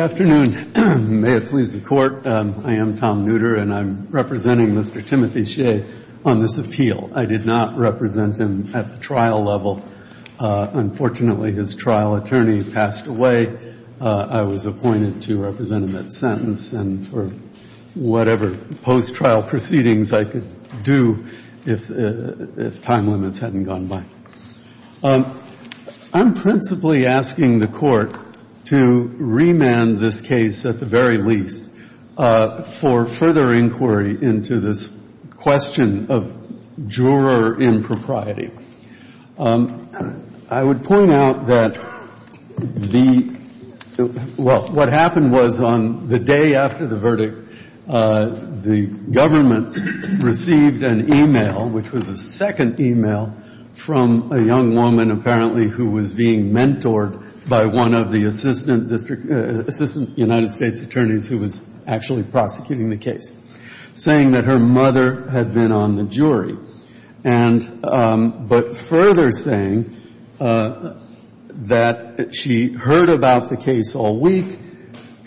Good afternoon. May it please the Court, I am Tom Nooter and I'm representing Mr. Timothy Shea on this appeal. I did not represent him at the trial level. Unfortunately, his trial attorney passed away. I was appointed to represent him at sentence and for whatever post-trial proceedings I could do if time limits hadn't gone by. I'm principally asking the Court to remand this case, at the very least, for further inquiry into this question of juror impropriety. I would point out that the well, what happened was on the day after the verdict, the government received an e-mail, which was a second e-mail from a young woman, apparently, who was being mentored by one of the assistant United States attorneys who was actually prosecuting the case, saying that her mother had been on the jury, but further saying that she heard about the case all week,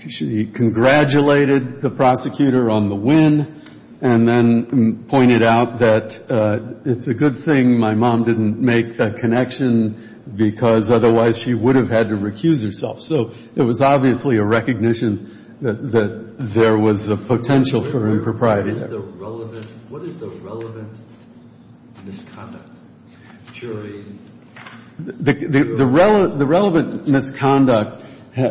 she congratulated the prosecutor on the win, and then pointed out that it's a good thing my mom didn't make that connection, because otherwise she would have had to recuse herself. So it was obviously a recognition that there was a potential for impropriety. What is the relevant misconduct, jury? The relevant misconduct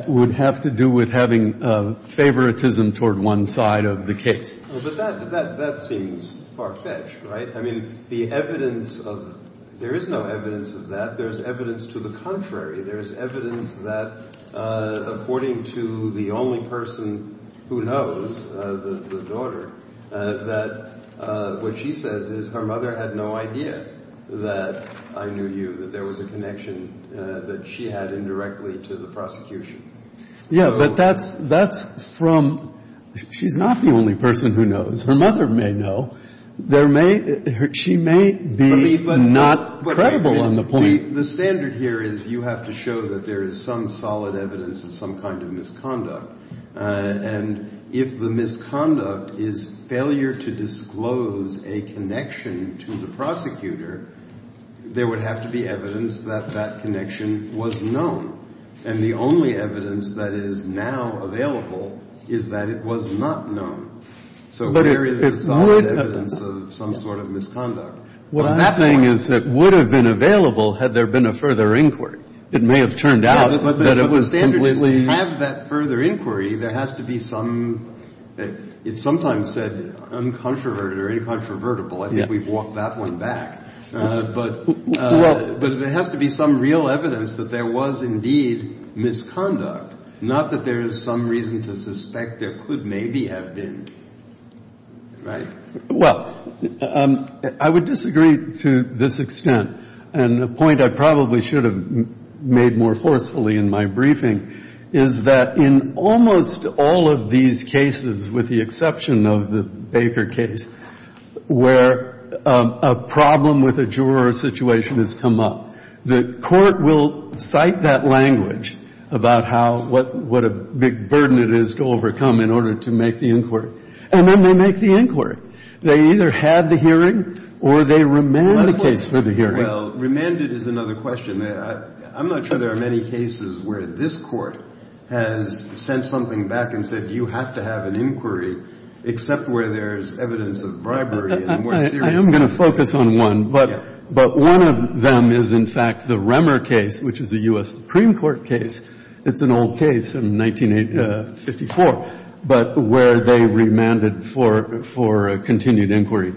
would have to do with having favoritism toward one side of the case. But that seems far-fetched, right? I mean, the evidence of — there is no evidence of that. There's evidence to the contrary. There's evidence that, according to the only person who knows, the daughter, that what she says is her mother had no idea that I knew you, that there was a connection that she had indirectly to the prosecution. So — Yeah, but that's from — she's not the only person who knows. Her mother may know. There may — she may be not credible on the point. But the standard here is you have to show that there is some solid evidence of some kind of misconduct, and if the misconduct is failure to disclose a connection to the prosecutor, there would have to be evidence that that connection was known. And the only evidence that is now available is that it was not known. So there is a solid evidence of some sort of misconduct. What I'm saying is that would have been available had there been a further inquiry. It may have turned out that it was completely — But the standard is to have that further inquiry, there has to be some — it's sometimes said uncontroverted or incontrovertible. I think we've walked that one back. But there has to be some real evidence that there was indeed misconduct, not that there is some reason to suspect there could maybe have been. Right? Well, I would disagree to this extent. And the point I probably should have made more forcefully in my briefing is that in almost all of these cases, with the exception of the Baker case, where a problem with a juror situation has come up, the court will cite that language about how — what a big burden it is to overcome in order to make the inquiry. And then they make the inquiry. They either have the hearing or they remand the case for the hearing. Well, remanded is another question. I'm not sure there are many cases where this Court has sent something back and said, you have to have an inquiry, except where there is evidence of bribery and where — I am going to focus on one. But one of them is, in fact, the Remmer case, which is a U.S. Supreme Court case. It's an old case from 1954, but where they remanded for a continued inquiry.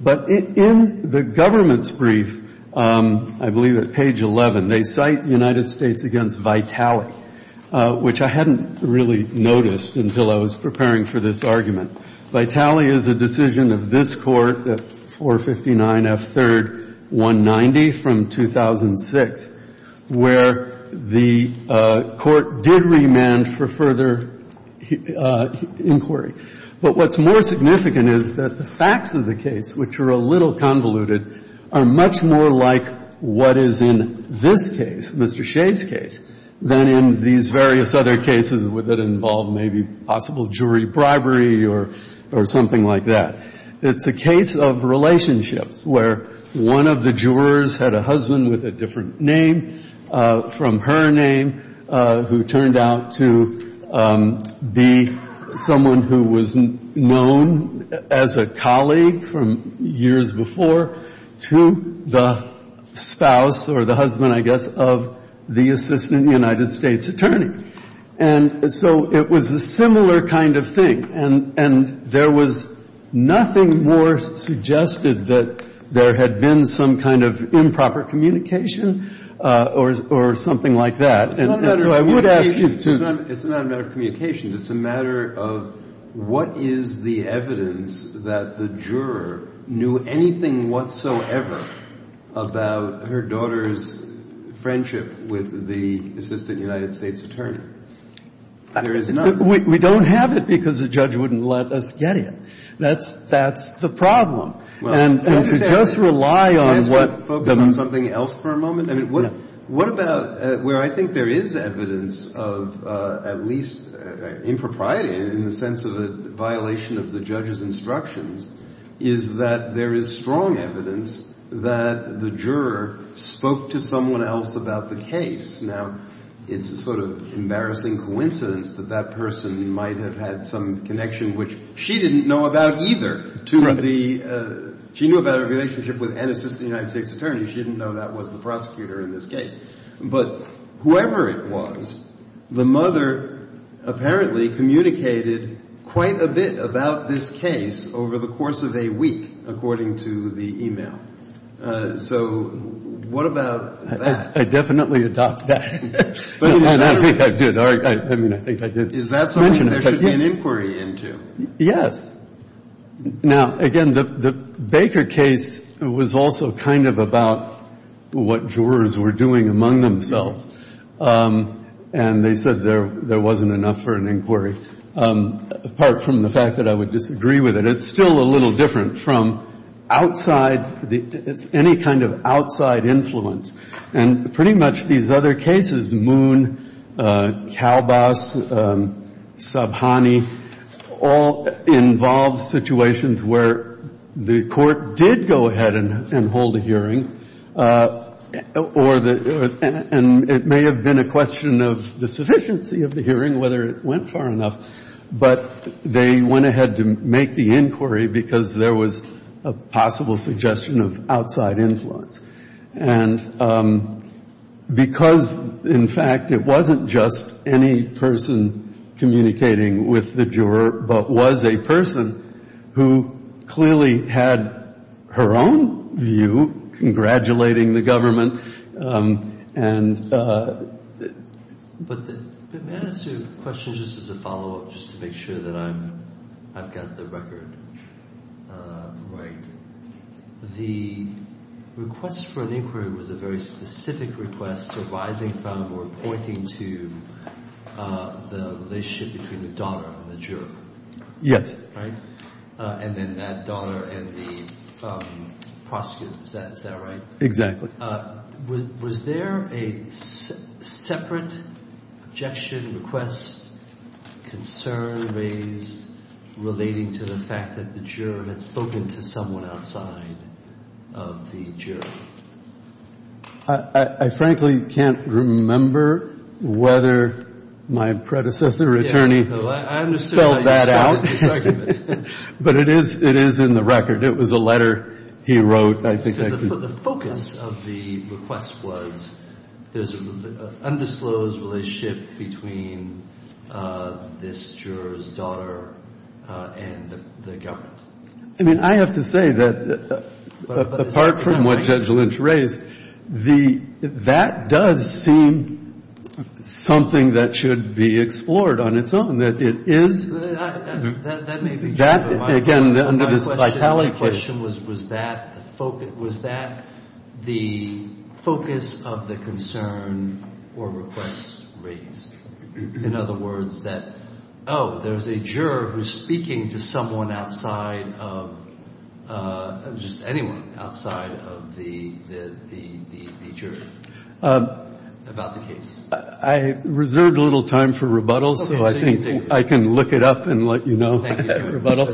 But in the government's brief, I believe at page 11, they cite the United States against Vitaly, which I hadn't really noticed until I was preparing for this argument. Vitaly is a decision of this Court, 459 F. 3rd, 190, from 2006, where the Court did remand for further inquiry. But what's more significant is that the facts of the case, which are a little convoluted, are much more like what is in this case, Mr. Shea's case, than in these various other cases that involve maybe possible jury bribery or something like that. It's a case of relationships, where one of the jurors had a husband with a different name from her name, who turned out to be someone who was known as a colleague from years before, to the spouse or the husband, I guess, of the assistant United States attorney. And so it was a similar kind of thing. And there was nothing more suggested that there had been some kind of improper communication or something like that. And so I would ask you to — Is the evidence that the juror knew anything whatsoever about her daughter's friendship with the assistant United States attorney? There is none. We don't have it because the judge wouldn't let us get it. That's the problem. And to just rely on what — Can I ask you to focus on something else for a moment? I mean, what about where I think there is evidence of at least impropriety in the sense of a violation of the judge's instructions, is that there is strong evidence that the juror spoke to someone else about the case. Now, it's a sort of embarrassing coincidence that that person might have had some connection which she didn't know about either to the — She knew about her relationship with an assistant United States attorney. She didn't know that was the prosecutor in this case. But whoever it was, the mother apparently communicated quite a bit about this case over the course of a week, according to the e-mail. So what about that? I definitely adopt that. I think I did. I mean, I think I did mention it. Is that someone there should be an inquiry into? Yes. Now, again, the Baker case was also kind of about what jurors were doing among themselves. And they said there wasn't enough for an inquiry, apart from the fact that I would disagree with it. It's still a little different from outside — any kind of outside influence. And pretty much these other cases, Moon, Calbas, Sabhani, all involved situations where the court did go ahead and hold a hearing, or the — and it may have been a question of the sufficiency of the hearing, whether it went far enough. But they went ahead to make the inquiry because there was a possible suggestion of outside influence. And because, in fact, it wasn't just any person communicating with the juror, but was a person who clearly had her own view congratulating the government, and — But may I ask two questions, just as a follow-up, just to make sure that I'm — I've got the record right? The request for an inquiry was a very specific request arising from or pointing to the relationship between the donor and the juror. Yes. Right? And then that donor and the prosecutor. Is that right? Exactly. Was there a separate objection, request, concern raised relating to the fact that the juror had spoken to someone outside of the jury? I frankly can't remember whether my predecessor attorney spelled that out. Yeah, no, I understand how you found this argument. But it is — it is in the record. It was a letter he wrote, I think. Because the focus of the request was there's an undisclosed relationship between this juror's and the government. I mean, I have to say that, apart from what Judge Lynch raised, the — that does seem something that should be explored on its own, that it is — That may be true, but my question — That, again, under this vitality question — My question was, was that the focus of the concern or request raised? In other words, that, oh, there's a juror who's speaking to someone outside of — just anyone outside of the jury about the case? I reserved a little time for rebuttal, so I think I can look it up and let you know. Thank you. Rebuttal.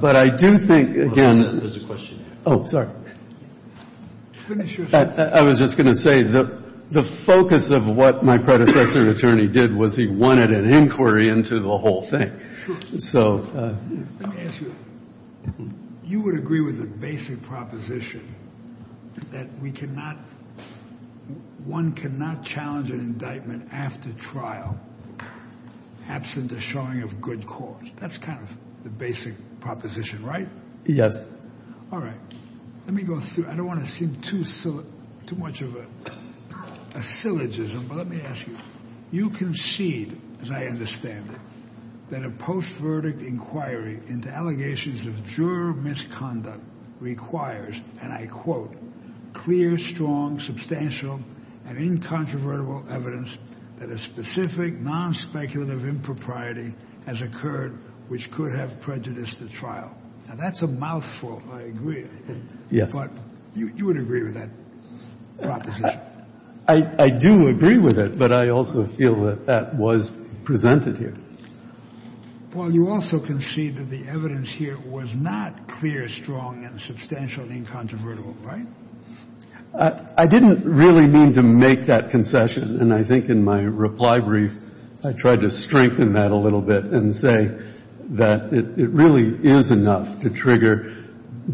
But I do think, again — Oh, sorry. Finish your — I was just going to say the focus of what my predecessor attorney did was he wanted an inquiry into the whole thing. So — Let me ask you. You would agree with the basic proposition that we cannot — one cannot challenge an indictment after trial absent a showing of good cause. That's kind of the basic proposition, right? Yes. All right. Let me go through. I don't want to seem too much of a syllogism, but let me ask you. You concede, as I understand it, that a post-verdict inquiry into allegations of juror misconduct requires, and I quote, clear, strong, substantial, and incontrovertible evidence that a specific non-speculative impropriety has occurred which could have prejudiced the trial. Now, that's a mouthful. I agree. Yes. But you would agree with that proposition. I do agree with it, but I also feel that that was presented here. Well, you also concede that the evidence here was not clear, strong, and substantial, and incontrovertible, right? I didn't really mean to make that concession, and I think in my reply brief I tried to strengthen that a little bit and say that it really is enough to trigger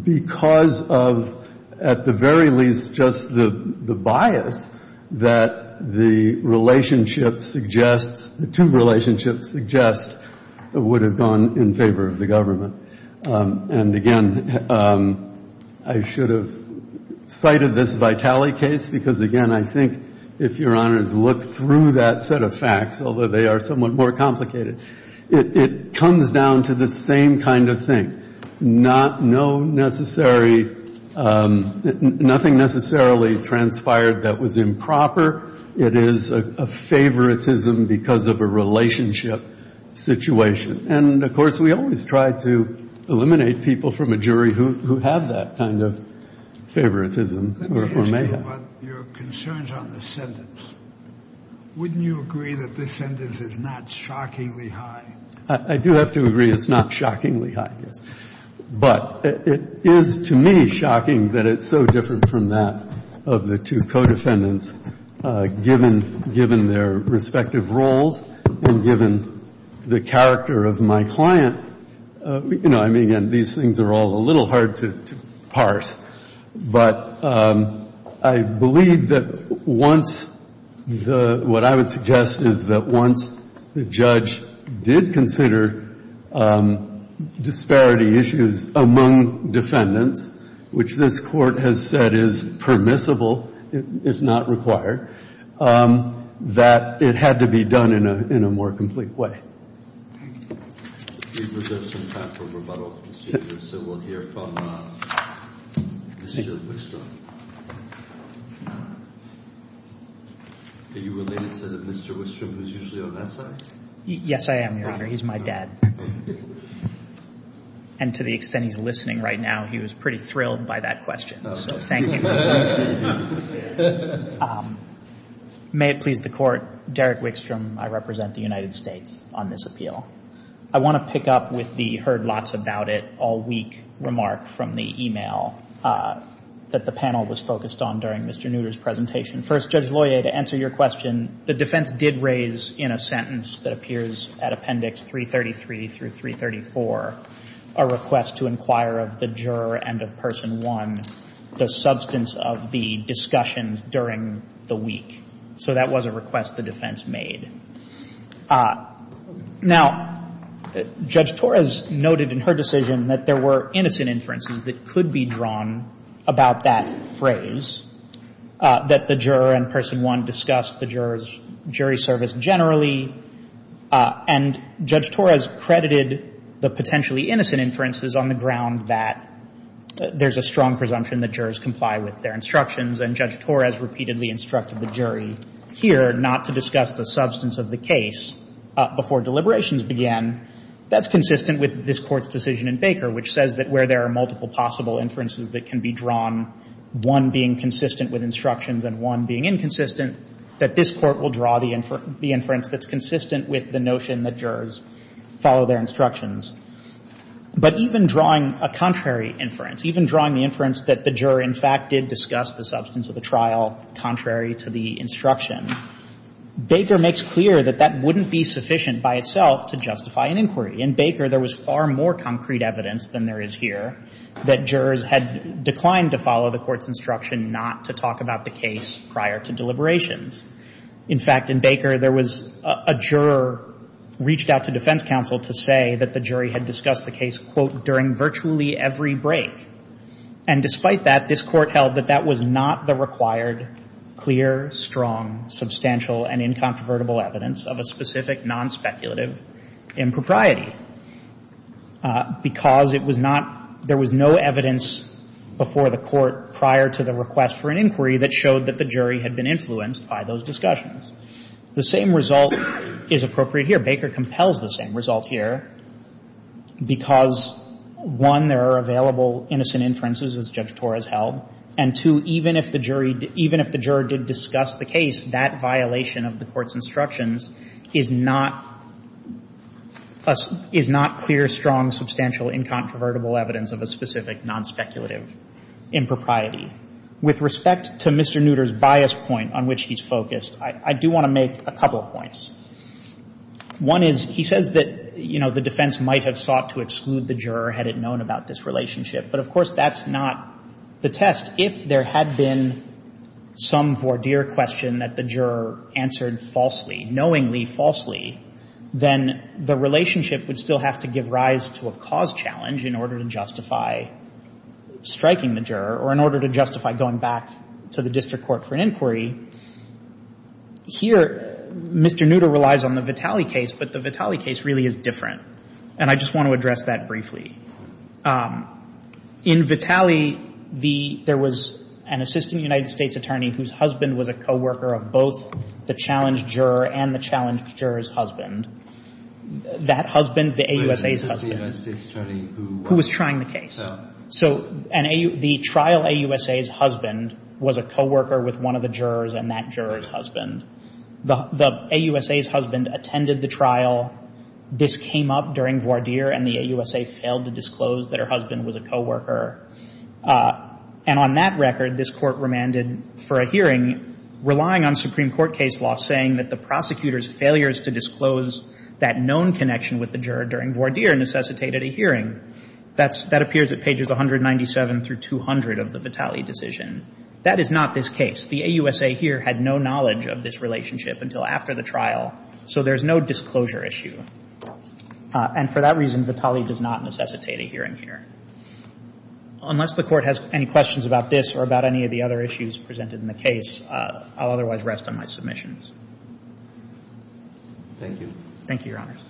because of, at the very least, just the bias that the relationship suggests, the two relationships suggest would have gone in favor of the government. And, again, I should have cited this Vitale case because, again, I think if Your Honors look through that set of facts, although they are somewhat more complicated, it comes down to the same kind of thing, nothing necessarily transpired that was improper. It is a favoritism because of a relationship situation. And, of course, we always try to eliminate people from a jury who have that kind of favoritism or may have. Let me ask you about your concerns on this sentence. Wouldn't you agree that this sentence is not shockingly high? I do have to agree it's not shockingly high, yes. But it is to me shocking that it's so different from that of the two co-defendants given their respective roles and given the character of my client. You know, I mean, again, these things are all a little hard to parse. But I believe that once the – what I would suggest is that once the judge did consider disparity issues among defendants, which this Court has said is permissible, it's not required, that it had to be done in a more complete way. We've reserved some time for rebuttal. So we'll hear from Mr. Wickstrom. Are you related to Mr. Wickstrom, who's usually on that side? Yes, I am, Your Honor. He's my dad. And to the extent he's listening right now, he was pretty thrilled by that question. So thank you. May it please the Court, Derek Wickstrom, I represent the United States on this appeal. I want to pick up with the heard-lots-about-it-all-week remark from the email that the panel was focused on during Mr. Nutter's presentation. First, Judge Loyer, to answer your question, the defense did raise in a sentence that appears at Appendix 333 through 334 a request to inquire of the juror and of Person 1 the substance of the discussions during the week. So that was a request the defense made. Now, Judge Torres noted in her decision that there were innocent inferences that could be drawn about that phrase, that the juror and Person 1 discussed the juror's jury service generally. And Judge Torres credited the potentially innocent inferences on the ground that there's a strong presumption that jurors comply with their instructions. And Judge Torres repeatedly instructed the jury here not to discuss the substance of the case before deliberations began. That's consistent with this Court's decision in Baker, which says that where there are multiple possible inferences that can be drawn, one being consistent with instructions and one being inconsistent, that this Court will draw the inference that's consistent with the notion that jurors follow their instructions. But even drawing a contrary inference, even drawing the inference that the juror, in fact, did discuss the substance of the trial contrary to the instruction, Baker makes clear that that wouldn't be sufficient by itself to justify an inquiry. In Baker, there was far more concrete evidence than there is here that jurors had declined to follow the Court's instruction not to talk about the case prior to deliberations. In fact, in Baker, there was a juror reached out to defense counsel to say that the jury had discussed the case, quote, during virtually every break. And despite that, this Court held that that was not the required clear, strong, substantial, and incontrovertible evidence of a specific nonspeculative impropriety, because it was not — there was no evidence before the Court prior to the request for an inquiry that showed that the jury had been influenced by those discussions. The same result is appropriate here. Baker compels the same result here, because, one, there are available innocent inferences, as Judge Torres held, and, two, even if the jury — even if the juror did discuss the case, that violation of the Court's instructions is not — is not clear, strong, substantial, incontrovertible evidence of a specific nonspeculative impropriety. With respect to Mr. Nutter's bias point on which he's focused, I do want to make a couple of points. One is, he says that, you know, the defense might have sought to exclude the juror had it known about this relationship. But, of course, that's not the test. If there had been some voir dire question that the juror answered falsely, knowingly falsely, then the relationship would still have to give rise to a cause challenge in order to justify striking the juror or in order to justify going back to the district court for an inquiry. Here, Mr. Nutter relies on the Vitale case, but the Vitale case really is different, and I just want to address that briefly. In Vitale, the — there was an assistant United States attorney whose husband was a co-worker of both the challenge juror and the challenge juror's husband. That husband, the AUSA's husband — But this is the United States attorney who — Who was trying the case. So — And on that record, this Court remanded for a hearing, relying on Supreme Court case law, saying that the prosecutor's failures to disclose that known connection with the juror during voir dire necessitated a hearing. That's — that appears at pages 197 through 200 of the Vitale decision. That is not this case. The court said here, had no knowledge of this relationship until after the trial, so there's no disclosure issue. And for that reason, Vitale does not necessitate a hearing here. Unless the Court has any questions about this or about any of the other issues presented in the case, I'll otherwise rest on my submissions. Thank you. Thank you, Your Honors.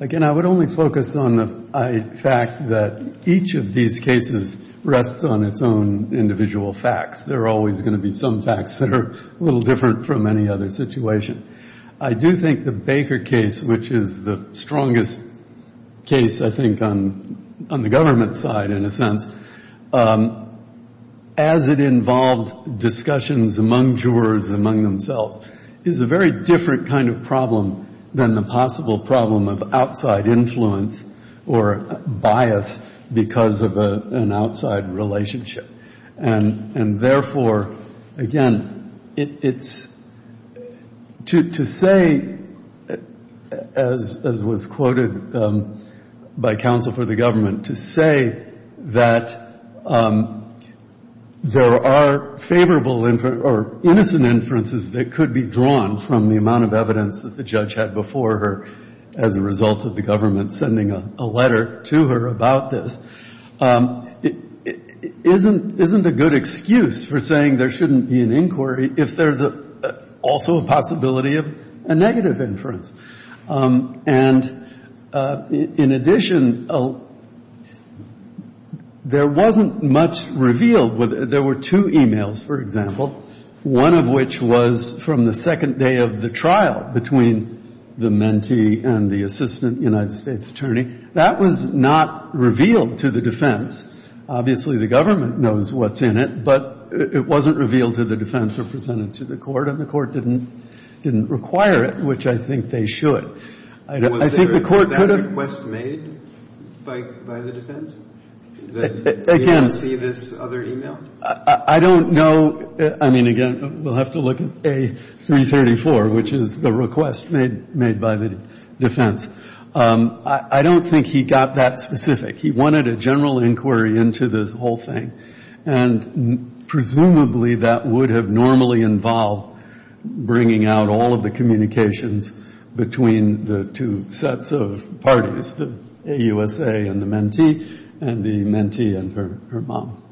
Again, I would only focus on the fact that each of these cases rests on its own individual facts. There are always going to be some facts that are a little different from any other situation. I do think the Baker case, which is the strongest case, I think, on the government side, in a sense, as it involved discussions among jurors, among themselves, is a very different kind of problem than the possible problem of outside influence or bias because of an outside relationship. And therefore, again, it's — to say, as was quoted by counsel for the government, to say that there are favorable or innocent inferences that could be drawn from the amount of evidence that the judge had before her as a result of the government sending a letter to her about this isn't a good excuse for saying there shouldn't be an inquiry if there's also a possibility of a negative inference. And in addition, there wasn't much revealed. There were two e-mails, for example, one of which was from the second day of the trial between the mentee and the assistant United States attorney. That was not revealed to the defense. Obviously, the government knows what's in it, but it wasn't revealed to the defense or I think the court could have — I don't know. I mean, again, we'll have to look at A334, which is the request made by the defense. I don't think he got that specific. He wanted a general inquiry into the whole thing. And presumably that would have normally involved bringing out all of the communications between the two sets of parties, the AUSA and the mentee, and the mentee and her mom.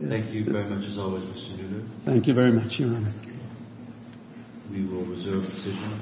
Thank you very much, as always, Mr. Duda. Thank you very much, Your Honor. We will reserve the decision.